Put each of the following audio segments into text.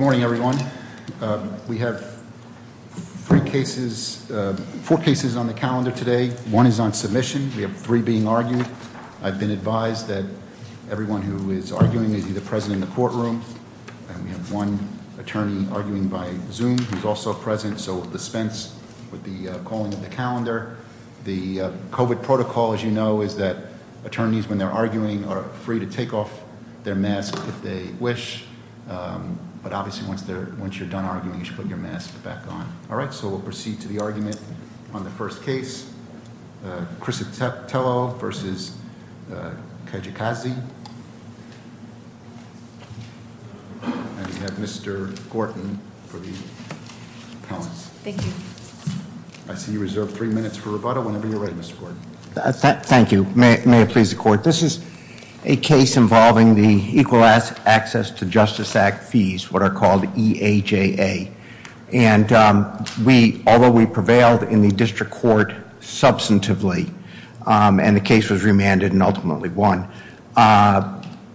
morning, everyone. We have three cases, four cases on the calendar today. One is on submission. We have three being argued. I've been advised that everyone who is arguing is either present in the courtroom and we have one attorney arguing by zoom. He's also present. So dispense with the calling of the calendar. The covid protocol, as you know, is that attorneys, when they're once you're done arguing, you should put your mask back on. All right, so we'll proceed to the argument on the first case, Criscitello v. Kijakazi. And we have Mr. Gorton for the appellants. Thank you. I see you reserved three minutes for rebuttal whenever you're ready, Mr. Gorton. Thank you. May it please the court. This is a case involving the Equal Access to Justice Act fees, what are called E-A-J-A. And we, although we prevailed in the district court substantively, and the case was remanded and ultimately won,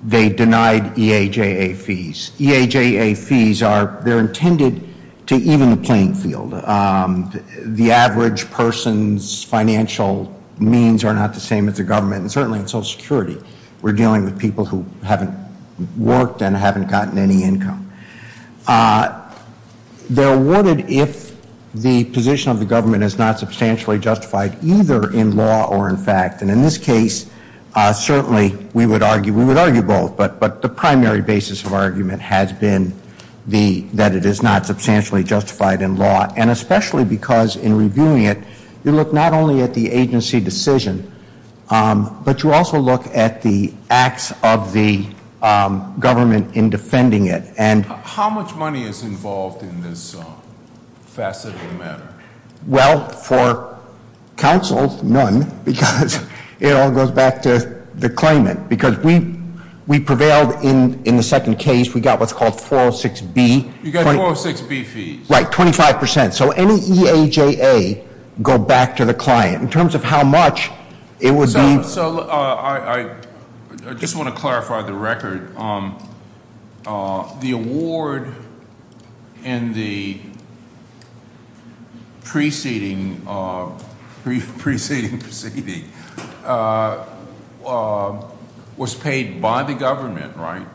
they denied E-A-J-A fees. E-A-J-A fees are, they're intended to even the playing field. The average person's financial means are not the same as the government and certainly in Social Security. We're dealing with people who haven't worked and haven't gotten any income. They're awarded if the position of the government is not substantially justified, either in law or in fact. And in this case, certainly we would argue, we would argue both, but but the primary basis of argument has been the, that it is not substantially justified in law. And especially because in reviewing it, you look not only at the agency decision, but you also look at the acts of the government in defending it. And... How much money is involved in this facet of the matter? Well, for counsel, none, because it all goes back to the claimant. Because we, we prevailed in, in the second case. We got what's called 406B. You got 406B fees? Right, 25%. So any E-A-J-A go back to the client. In terms of how much, it would be... So, so, I, I just want to clarify the record. The award and the preceding, preceding, preceding, was paid by the government, right?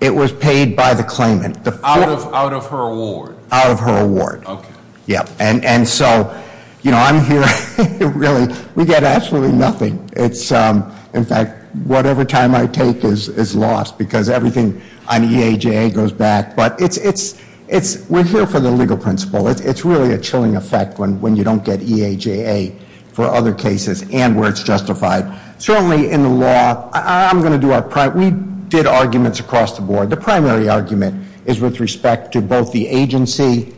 It was paid by the claimant. Out of, out of her award? Out of her award. Okay. Yeah. And, and so, you know, I'm here, really, we get absolutely nothing. It's, in fact, whatever time I take is, is lost. Because everything on E-A-J-A goes back. But it's, it's, it's, we're here for the legal principle. It's, it's really a chilling effect when, when you don't get E-A-J-A for other cases and where it's justified. Certainly in the law, I'm gonna do our prime, we did arguments across the board. The primary argument is with respect to both the agency,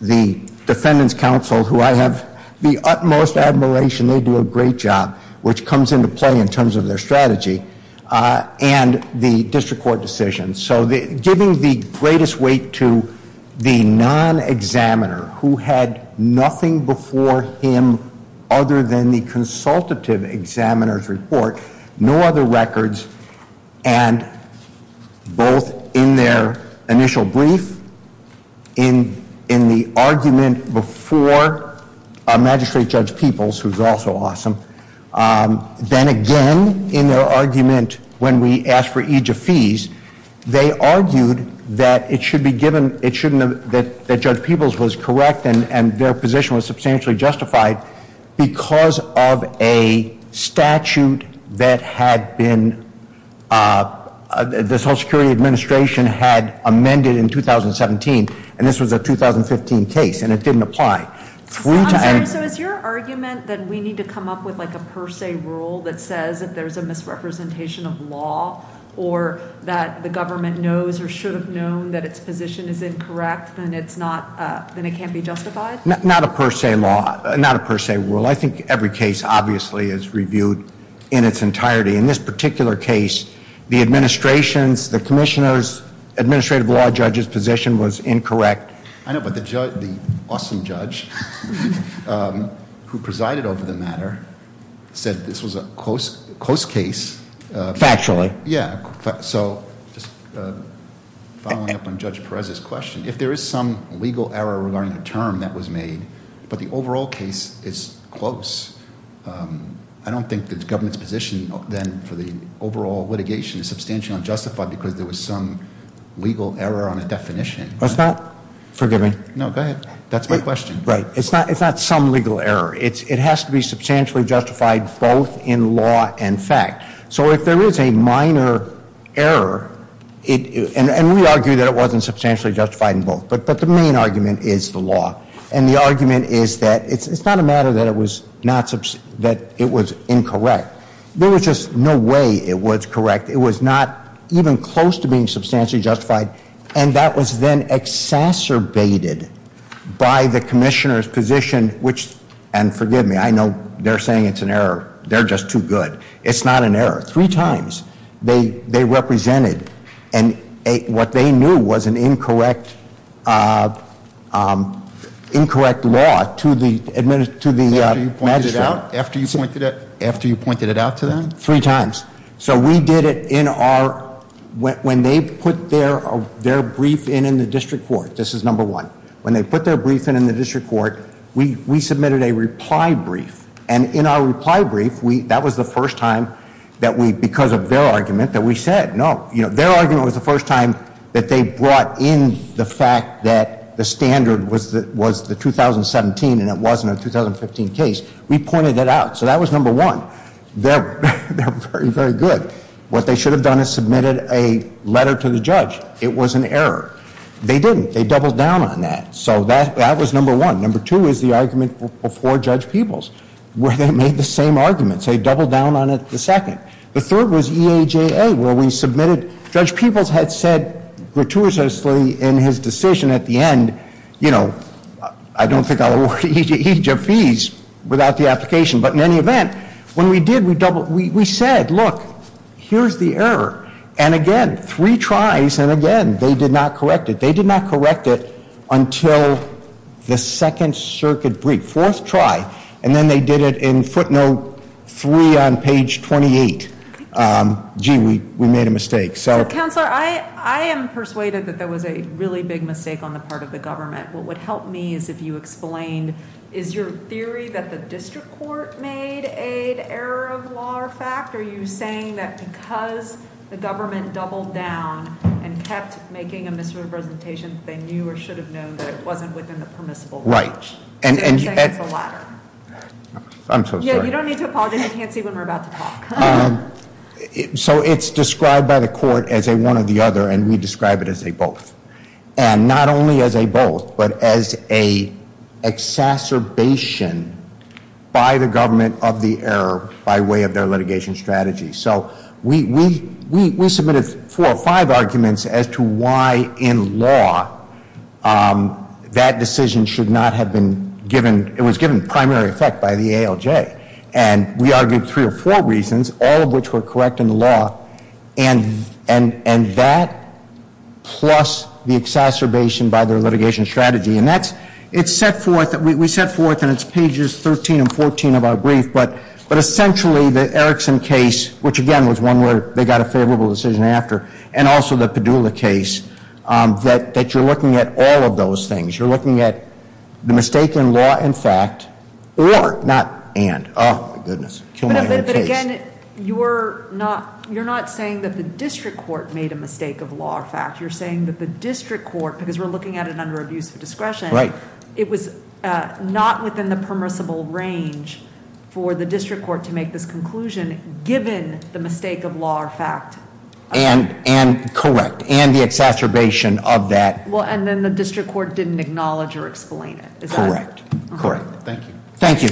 the Defendant's Council, who I have the utmost admiration, they do a great job, which comes into play in terms of their strategy, and the district court decision. So the, giving the greatest weight to the non-examiner, who had nothing before him other than the consultative examiner's report, no other brief in, in the argument before Magistrate Judge Peebles, who's also awesome, then again in their argument when we asked for E-J-A fees, they argued that it should be given, it shouldn't have, that, that Judge Peebles was correct and, and their position was substantially justified because of a statute that had been, the Social Security Administration had amended in 2017, and this was a 2015 case, and it didn't apply. So is your argument that we need to come up with like a per se rule that says if there's a misrepresentation of law or that the government knows or should have known that its position is incorrect, then it's not, then it can't be justified? Not a per se law, not a per se rule. I think every case obviously is reviewed in its entirety. In this particular case, the administration's, the Commissioner's Administrative Law Judge's position was incorrect. I know, but the judge, the awesome judge who presided over the matter said this was a close, close case. Factually. Yeah, so just following up on Judge Perez's question, if there is some legal error regarding a term that was I don't think the government's position then for the overall litigation is substantially unjustified because there was some legal error on a definition. What's that? Forgive me. No, go ahead. That's my question. Right. It's not, it's not some legal error. It's, it has to be substantially justified both in law and fact. So if there is a minor error, it, and, and we argue that it wasn't substantially justified in both, but, but the main argument is the law, and the not, that it was incorrect. There was just no way it was correct. It was not even close to being substantially justified, and that was then exacerbated by the Commissioner's position, which, and forgive me, I know they're saying it's an error. They're just too good. It's not an error. Three times they, they represented, and what they knew was an incorrect, incorrect law to the, to the magistrate. After you pointed it, after you pointed it out to them? Three times. So we did it in our, when they put their, their brief in in the district court, this is number one. When they put their brief in in the district court, we, we submitted a reply brief, and in our reply brief, we, that was the first time that we, because of their argument, that we said no, you know, their argument was the first time that they brought in the fact that the standard was that, was the 2017, and it wasn't a 2015 case. We pointed that out. So that was number one. They're, they're very, very good. What they should have done is submitted a letter to the judge. It was an error. They didn't. They doubled down on that. So that, that was number one. Number two is the argument before Judge Peebles, where they made the same arguments. They doubled down on it the second. The third was EAJA, where we submitted, Judge Peebles had said gratuitously in his decision at the end, you know, I don't think I'll award EAJA fees without the application, but in any event, when we did, we doubled, we said, look, here's the error, and again, three tries, and again, they did not correct it. They did not correct it until the second circuit brief. Fourth try, and then they did it in footnote three on page 28. Gee, we, we made a mistake. So. Counselor, I, I am persuaded that there was a really big mistake on the part of the government. What would help me is if you explained, is your theory that the district court made a error of law or fact? Are you saying that because the government doubled down and kept making a misrepresentation, they knew or should have known that it wasn't within the permissible bounds? Right. And, and. So you're saying it's the latter? I'm so sorry. Yeah, you don't need to apologize. You can't see when we're about to talk. So it's described by the court as a one or the other, and we describe it as a both, and not only as a both, but as a exacerbation by the government of the error by way of their litigation strategy. So we, we, we, we submitted four or five arguments as to why in law that decision should not have been given, it was given primary effect by the ALJ, and we argued three or four reasons, all of which were exacerbation by their litigation strategy. And that's, it's set forth, we set forth and it's pages 13 and 14 of our brief, but, but essentially the Erickson case, which again was one where they got a favorable decision after, and also the Padula case, that, that you're looking at all of those things. You're looking at the mistake in law and fact, or, not and, oh my goodness. But again, you're not, you're not saying that the district court made a mistake of law or fact. You're saying that the district court, because we're looking at it under abuse of discretion. Right. It was not within the permissible range for the district court to make this conclusion, given the mistake of law or fact. And, and correct, and the exacerbation of that. Well, and then the district court didn't acknowledge or explain it. Correct. Correct. Thank you. Thank you.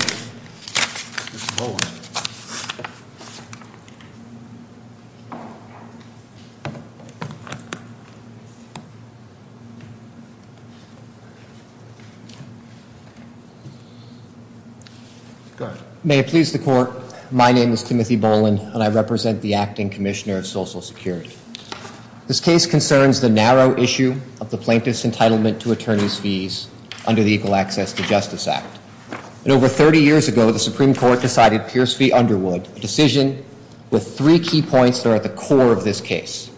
Go ahead. May it please the court, my name is Timothy Boland, and I represent the Acting Commissioner of Social Security. This case concerns the narrow issue of the plaintiff's entitlement to attorney's fees under the Equal Access to Justice Act. And over 30 years ago, the Supreme Court decided Pierce v. Underwood, a decision with three key points that are at the core of this case.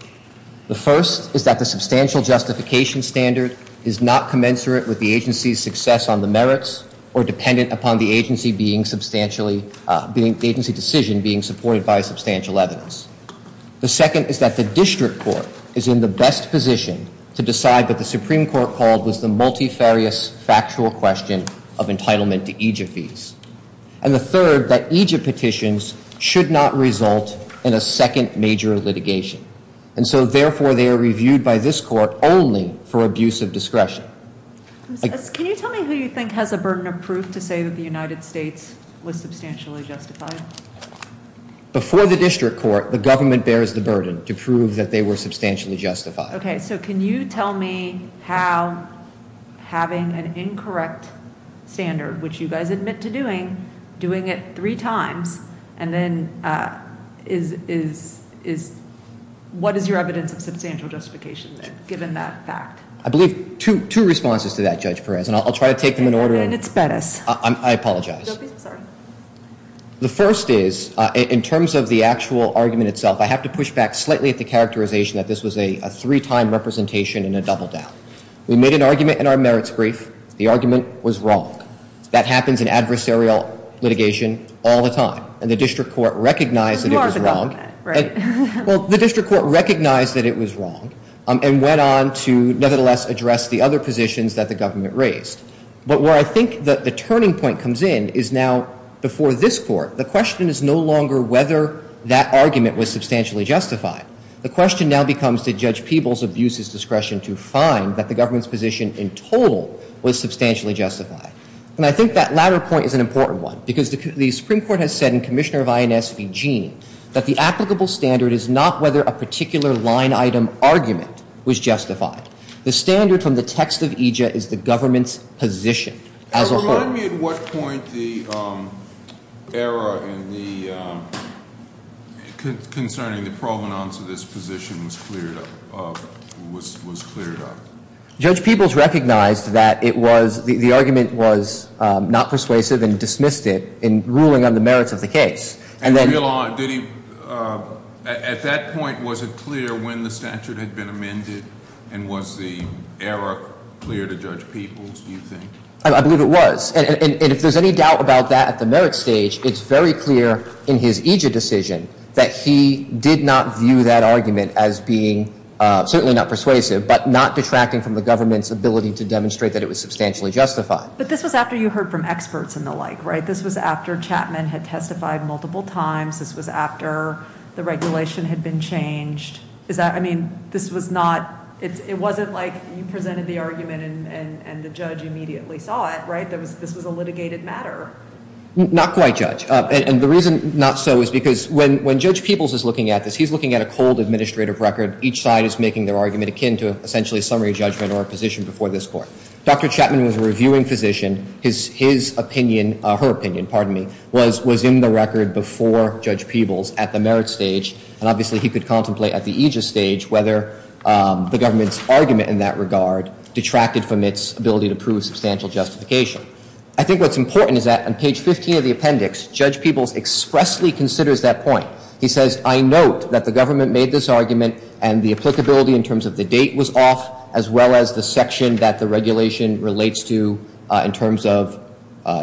The first is that the substantial justification standard is not commensurate with the agency's success on the merits, or dependent upon the agency being substantially, the agency decision being supported by substantial evidence. The second is that the district court is in the best position to decide that the Supreme Court called was the multifarious factual question of entitlement to EJF fees. And the third, that EJF petitions should not result in litigation. And so therefore, they are reviewed by this court only for abuse of discretion. Can you tell me who you think has a burden of proof to say that the United States was substantially justified? Before the district court, the government bears the burden to prove that they were substantially justified. Okay, so can you tell me how having an incorrect standard, which you guys admit to doing, doing it three times, and then is, is, is, what is your evidence of substantial justification there, given that fact? I believe two, two responses to that, Judge Perez, and I'll try to take them in order. And it's Bettis. I apologize. The first is, in terms of the actual argument itself, I have to push back slightly at the characterization that this was a three-time representation and a double down. We made an argument in our merits brief. The argument was wrong. That happens in adversarial litigation all the time. And the district court recognized that it was wrong. Well, the district court recognized that it was wrong and went on to, nevertheless, address the other positions that the government raised. But where I think that the turning point comes in is now, before this court, the question is no longer whether that argument was substantially justified. The question now becomes, did Judge Peebles abuse his discretion to find that the government's position in total was substantially justified? And I think that latter point is an important one, because the Supreme Court has said in Commissioner of INS Vegene that the applicable standard is not whether a particular line item argument was justified. The standard from the text of EJIA is the government's position as a whole. Remind me at what point the error in the, concerning the provenance of this position was cleared up? Judge Peebles recognized that it was, the argument was not persuasive and dismissed it in ruling on the merits of the case. And then... Did he, at that point, was it clear when the statute had been amended and was the error clear to Judge Peebles, do you think? I believe it was. And if there's any doubt about that at the merits stage, it's very clear in his EJIA decision that he did not view that argument as being, certainly not persuasive, but not detracting from the government's ability to demonstrate that it was substantially justified. But this was after you heard from experts and the like, right? This was after Chapman had testified multiple times, this was after the regulation had been changed. Is that, I mean, this was not, it wasn't like you presented the argument and the judge immediately saw it, right? This was a litigated matter. Not quite, Judge. And the reason not so is because when Judge Peebles is looking at a cold administrative record, each side is making their argument akin to essentially a summary judgment or a position before this Court. Dr. Chapman was a reviewing physician. His opinion, her opinion, pardon me, was in the record before Judge Peebles at the merits stage. And obviously, he could contemplate at the EJIA stage whether the government's argument in that regard detracted from its ability to prove substantial justification. I think what's important is that on page 15 of the appendix, Judge Peebles expressly considers that point. He says, I note that the government made this argument and the applicability in terms of the date was off, as well as the section that the regulation relates to in terms of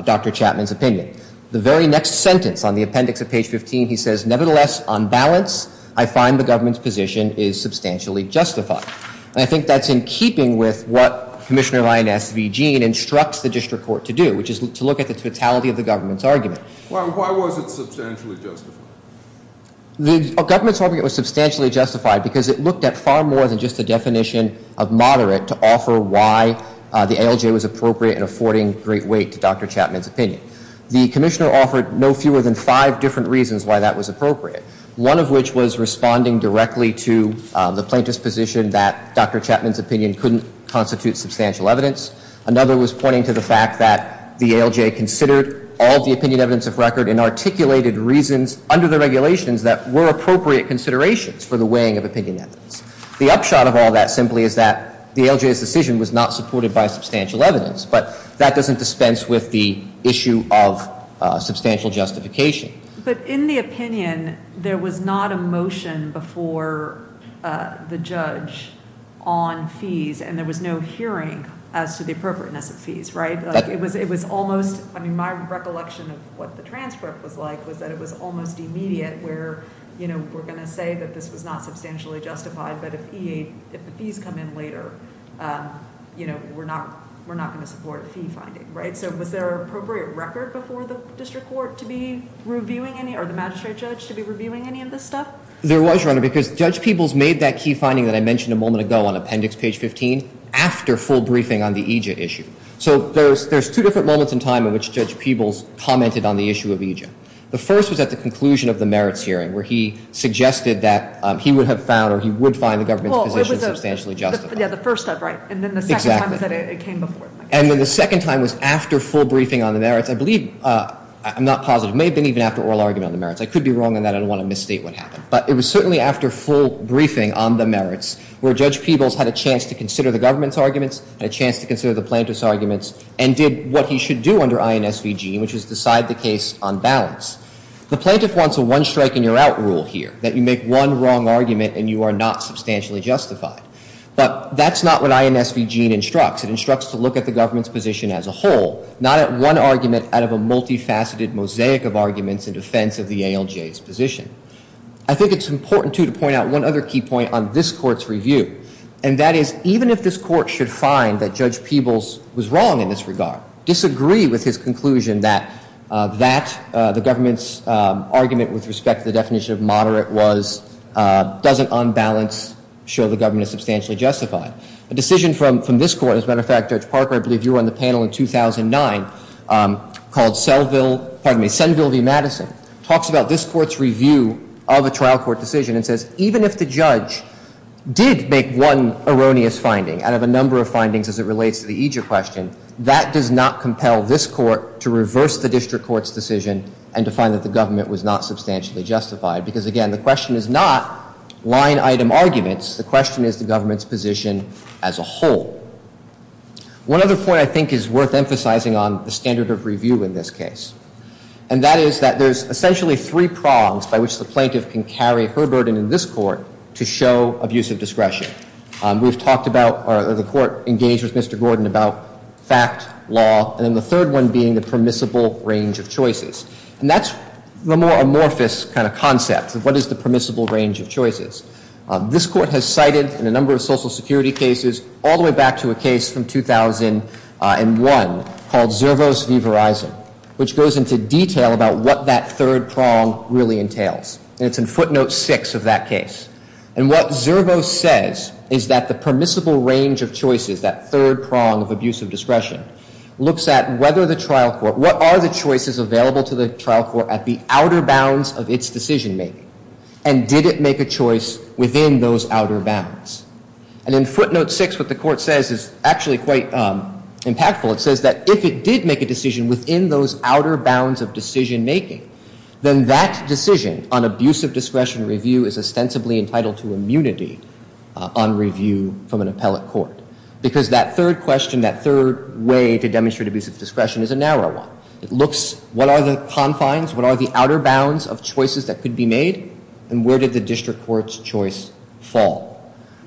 Dr. Chapman's opinion. The very next sentence on the appendix of page 15, he says, nevertheless, on balance, I find the government's position is substantially justified. And I think that's in keeping with what Commissioner Ryan S. V. Geene instructs the District Court to do, which is to look at the government's argument. Why was it substantially justified? The government's argument was substantially justified because it looked at far more than just a definition of moderate to offer why the ALJ was appropriate in affording great weight to Dr. Chapman's opinion. The Commissioner offered no fewer than five different reasons why that was appropriate. One of which was responding directly to the plaintiff's position that Dr. Chapman's opinion couldn't constitute substantial evidence. Another was pointing to the fact that the ALJ considered all the opinion evidence of record and articulated reasons under the regulations that were appropriate considerations for the weighing of opinion evidence. The upshot of all that simply is that the ALJ's decision was not supported by substantial evidence, but that doesn't dispense with the issue of substantial justification. But in the opinion, there was not a motion before the judge on fees and there was no hearing as to the appropriateness of the fee finding. My recollection of what the transcript was like was that it was almost immediate where, you know, we're going to say that this was not substantially justified, but if the fees come in later, you know, we're not going to support a fee finding, right? So was there an appropriate record before the District Court to be reviewing any or the magistrate judge to be reviewing any of this stuff? There was, Your Honor, because Judge Peebles made that key finding that I mentioned a moment ago on appendix page 15 after full briefing on the EJIA issue. So there's two different moments in time in which Judge Peebles commented on the issue of EJIA. The first was at the conclusion of the merits hearing where he suggested that he would have found or he would find the government's position substantially justified. Yeah, the first time, right? And then the second time is that it came before. And then the second time was after full briefing on the merits. I believe, I'm not positive, may have been even after oral argument on the merits. I could be wrong on that. I don't want to misstate what happened. But it was certainly after full briefing on the merits where Judge Peebles had a chance to consider the government's arguments, had a chance to consider the plaintiff's arguments and did what he should do under INSVG, which was decide the case on balance. The plaintiff wants a one strike and you're out rule here that you make one wrong argument and you are not substantially justified. But that's not what INSVG instructs. It instructs to look at the government's position as a whole, not at one argument out of a multifaceted mosaic of arguments in defense of the ALJ's position. I think it's important, too, to point out one other key point on this court's review. And that is, even if this court should find that Judge Peebles was wrong in this regard, disagree with his conclusion that the government's argument with respect to the definition of moderate doesn't, on balance, show the government is substantially justified, a decision from this court, as a matter of fact, Judge Parker, I believe you were on the panel in 2009, called Senville v. Madison, talks about this court's review of a trial court decision and says, even if the judge did make one erroneous finding out of a number of findings as it relates to the ALJ, that does not compel this court to reverse the district court's decision and to find that the government was not substantially justified. Because, again, the question is not line-item arguments. The question is the government's position as a whole. One other point I think is worth emphasizing on the standard of review in this case. And that is that there's essentially three prongs by which the plaintiff can carry her burden in this court to show abusive discretion. We've talked about, or the court engaged with Mr. Gordon about fact, law, and then the third one being the permissible range of choices. And that's the more amorphous kind of concept of what is the permissible range of choices. This court has cited, in a number of social security cases, all the way back to a case from 2001 called Zervos v. Verizon, which goes into detail about what that third prong really entails. And it's in footnote six of that case. And what Zervos says is that the permissible range of choices, that third prong of abusive discretion, looks at whether the trial court, what are the choices available to the trial court at the outer bounds of its decision-making? And did it make a choice within those outer bounds? And in footnote six, what the court says is actually quite impactful. It says that if it did make a decision within those outer bounds of decision-making, then that decision on abusive discretion review is ostensibly entitled to immunity on review from an appellate court. Because that third question, that third way to demonstrate abusive discretion is a narrow one. It looks, what are the confines, what are the outer bounds of choices that could be made, and where did the district court's choice fall?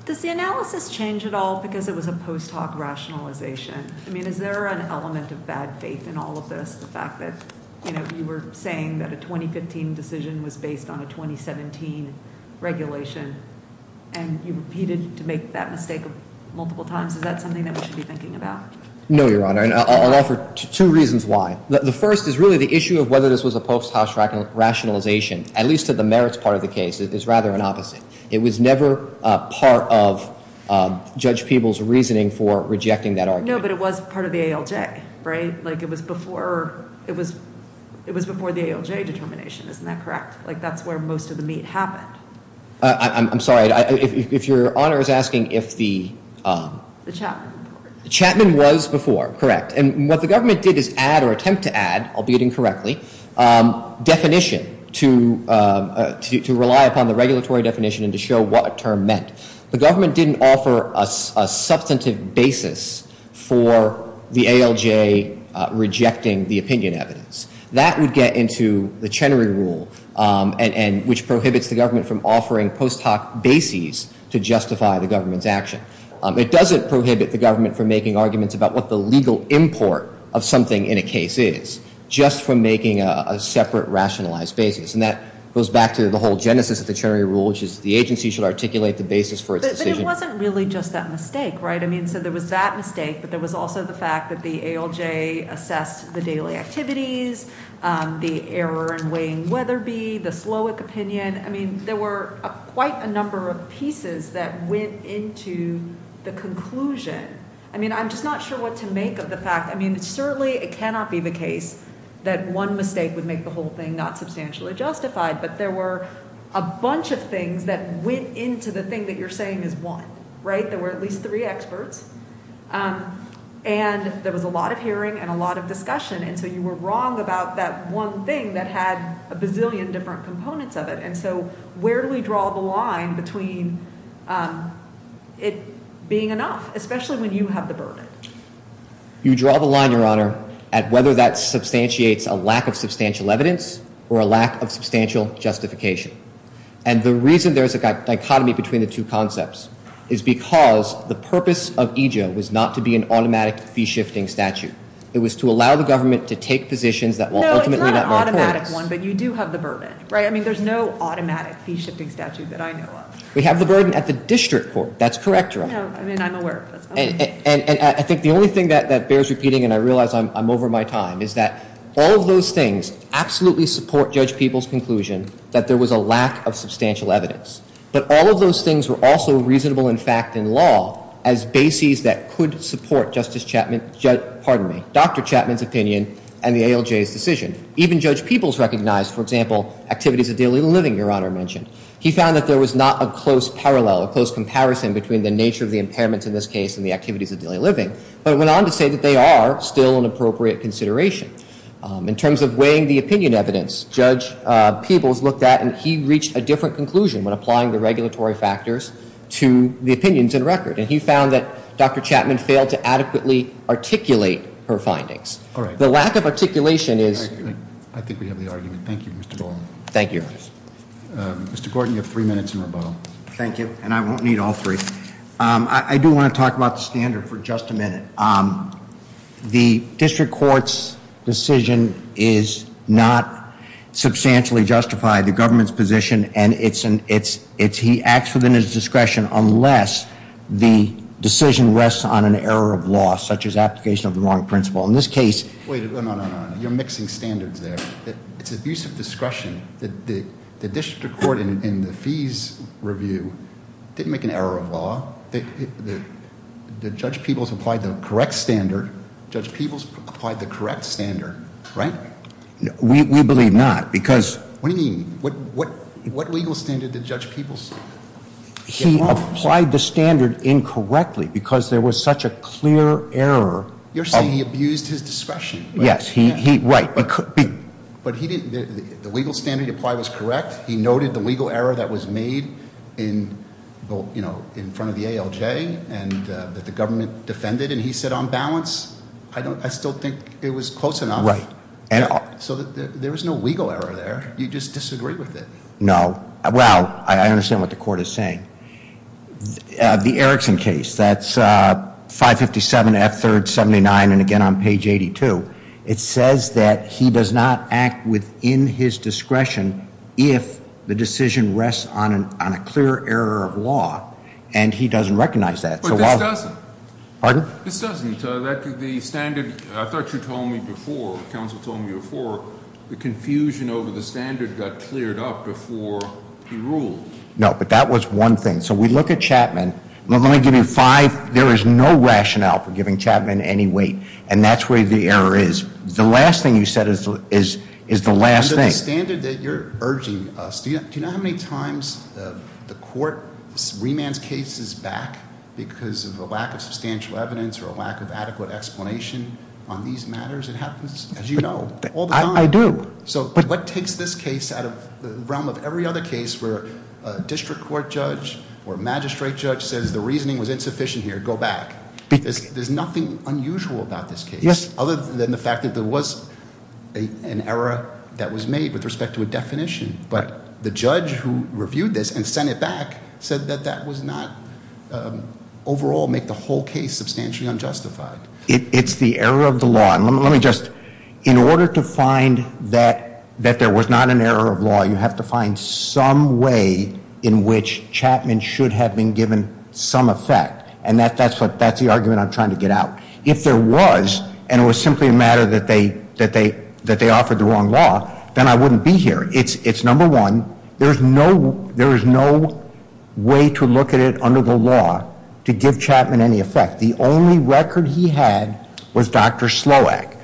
Does the analysis change at all because it was a post hoc rationalization? I mean, is there an element of bad faith in all of this, the fact that, you know, you were saying that a 2015 decision was based on a 2017 regulation, and you repeated to make that mistake multiple times? Is that something that we should be thinking about? No, Your Honor, and I'll offer two reasons why. The first is really the issue of whether this was a post hoc rationalization, at least to the merits part of the case. It's rather an opposite. It was never part of Judge Peeble's reasoning for rejecting that argument. No, but it was part of the ALJ, right? Like, it was before the ALJ determination, isn't that correct? Like, that's where most of the meat happened. I'm sorry, if Your Honor is asking if the... The Chapman report. Chapman was before, correct, and what the government did is add or attempt to add, albeit incorrectly, definition to rely upon the regulatory definition and to show what a term meant. The government didn't offer a substantive basis for the ALJ rejecting the opinion evidence. That would get into the Chenery Rule, which prohibits the government from offering post hoc bases to justify the government's action. It doesn't prohibit the government from making arguments about what the legal import of something in a case is, just from making a separate rationalized basis. And that goes back to the whole genesis of the Chenery Rule, which is the agency should articulate the basis for its decision. But it wasn't really just that mistake, right? I mean, I'm just not sure what to make of the fact, I mean, certainly it cannot be the case that one mistake would make the whole thing not substantially justified, but there were a bunch of things that went into the thing that you're saying is one, right? There were at least three experts, and there was a lot of hearing and a lot of discussion, and so you were wrong about that one thing that had a bazillion different components of it. And so where do we draw the line between it being enough, especially when you have the burden? You draw the line, Your Honor, at whether that substantiates a lack of substantial evidence or a lack of substantial justification. And the reason there's a dichotomy between the two concepts is because the purpose of EJA was not to be an automatic fee-shifting statute. It was to allow the government to take positions that were ultimately not more courts. It's an automatic one, but you do have the burden, right? I mean, there's no automatic fee-shifting statute that I know of. We have the burden at the district court, that's correct, Your Honor. No, I mean, I'm aware of this. And I think the only thing that bears repeating, and I realize I'm over my time, is that all of those things absolutely support Judge Peoples' conclusion that there was a lack of substantial evidence. But all of those things were also reasonable in fact in law as bases that could support Justice Chapman, pardon me, Dr. Chapman's opinion and the ALJ's decision. Even Judge Peoples recognized, for example, activities of daily living, Your Honor mentioned. He found that there was not a close parallel, a close comparison between the nature of the impairments in this case and the activities of daily living. But it went on to say that they are still an appropriate consideration. In terms of weighing the opinion evidence, Judge Peoples looked at and he reached a different conclusion when applying the regulatory factors to the opinions in record. And he found that Dr. Chapman failed to adequately articulate her findings. The lack of articulation is- I think we have the argument. Thank you, Mr. Bowen. Thank you, Your Honor. Mr. Gordon, you have three minutes in rebuttal. Thank you, and I won't need all three. I do want to talk about the standard for just a minute. The district court's decision is not substantially justified. The government's position, and it's he acts within his discretion unless the decision rests on an error of law, such as application of the wrong principle. In this case- Wait, no, no, no, no. You're mixing standards there. It's abuse of discretion. The district court in the fees review didn't make an error of law. Judge Peoples applied the correct standard. Judge Peoples applied the correct standard, right? We believe not because- What do you mean? What legal standard did Judge Peoples- He applied the standard incorrectly because there was such a clear error of- You're saying he abused his discretion. Yes. Right. But the legal standard he applied was correct. He noted the legal error that was made in front of the ALJ and that the government defended, and he said on balance. I still think it was close enough. Right. So there was no legal error there. No. Well, I understand what the court is saying. The Erickson case, that's 557 F3rd 79, and again on page 82. It says that he does not act within his discretion if the decision rests on a clear error of law, and he doesn't recognize that. But this doesn't. Pardon? This doesn't. The standard, I thought you told me before, counsel told me before, the confusion over the standard got cleared up before he ruled. No, but that was one thing. So we look at Chapman. Let me give you five. There is no rationale for giving Chapman any weight, and that's where the error is. The last thing you said is the last thing. Under the standard that you're urging us, do you know how many times the court remands cases back because of a lack of substantial evidence or a lack of adequate explanation on these matters? It happens, as you know, all the time. I do. So what takes this case out of the realm of every other case where a district court judge or magistrate judge says the reasoning was insufficient here, go back? There's nothing unusual about this case other than the fact that there was an error that was made with respect to a definition. But the judge who reviewed this and sent it back said that that does not overall make the whole case substantially unjustified. It's the error of the law. Let me just, in order to find that there was not an error of law, you have to find some way in which Chapman should have been given some effect. And that's the argument I'm trying to get out. If there was, and it was simply a matter that they offered the wrong law, then I wouldn't be here. It's number one, there is no way to look at it under the law to give Chapman any effect. The only record he had was Dr. Sloack.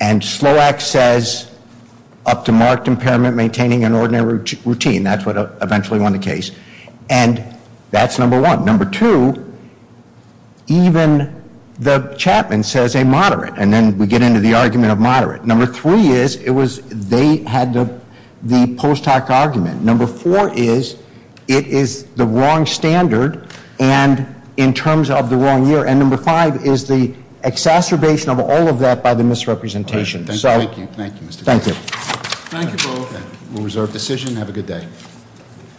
And Sloack says, up to marked impairment maintaining an ordinary routine. That's what eventually won the case. And that's number one. Number two, even the Chapman says a moderate. And then we get into the argument of moderate. Number three is, it was, they had the post hoc argument. Number four is, it is the wrong standard, and in terms of the wrong year. And number five is the exacerbation of all of that by the misrepresentation. So- Thank you, Mr. Chairman. Thank you. Thank you both. We'll reserve decision. Have a good day.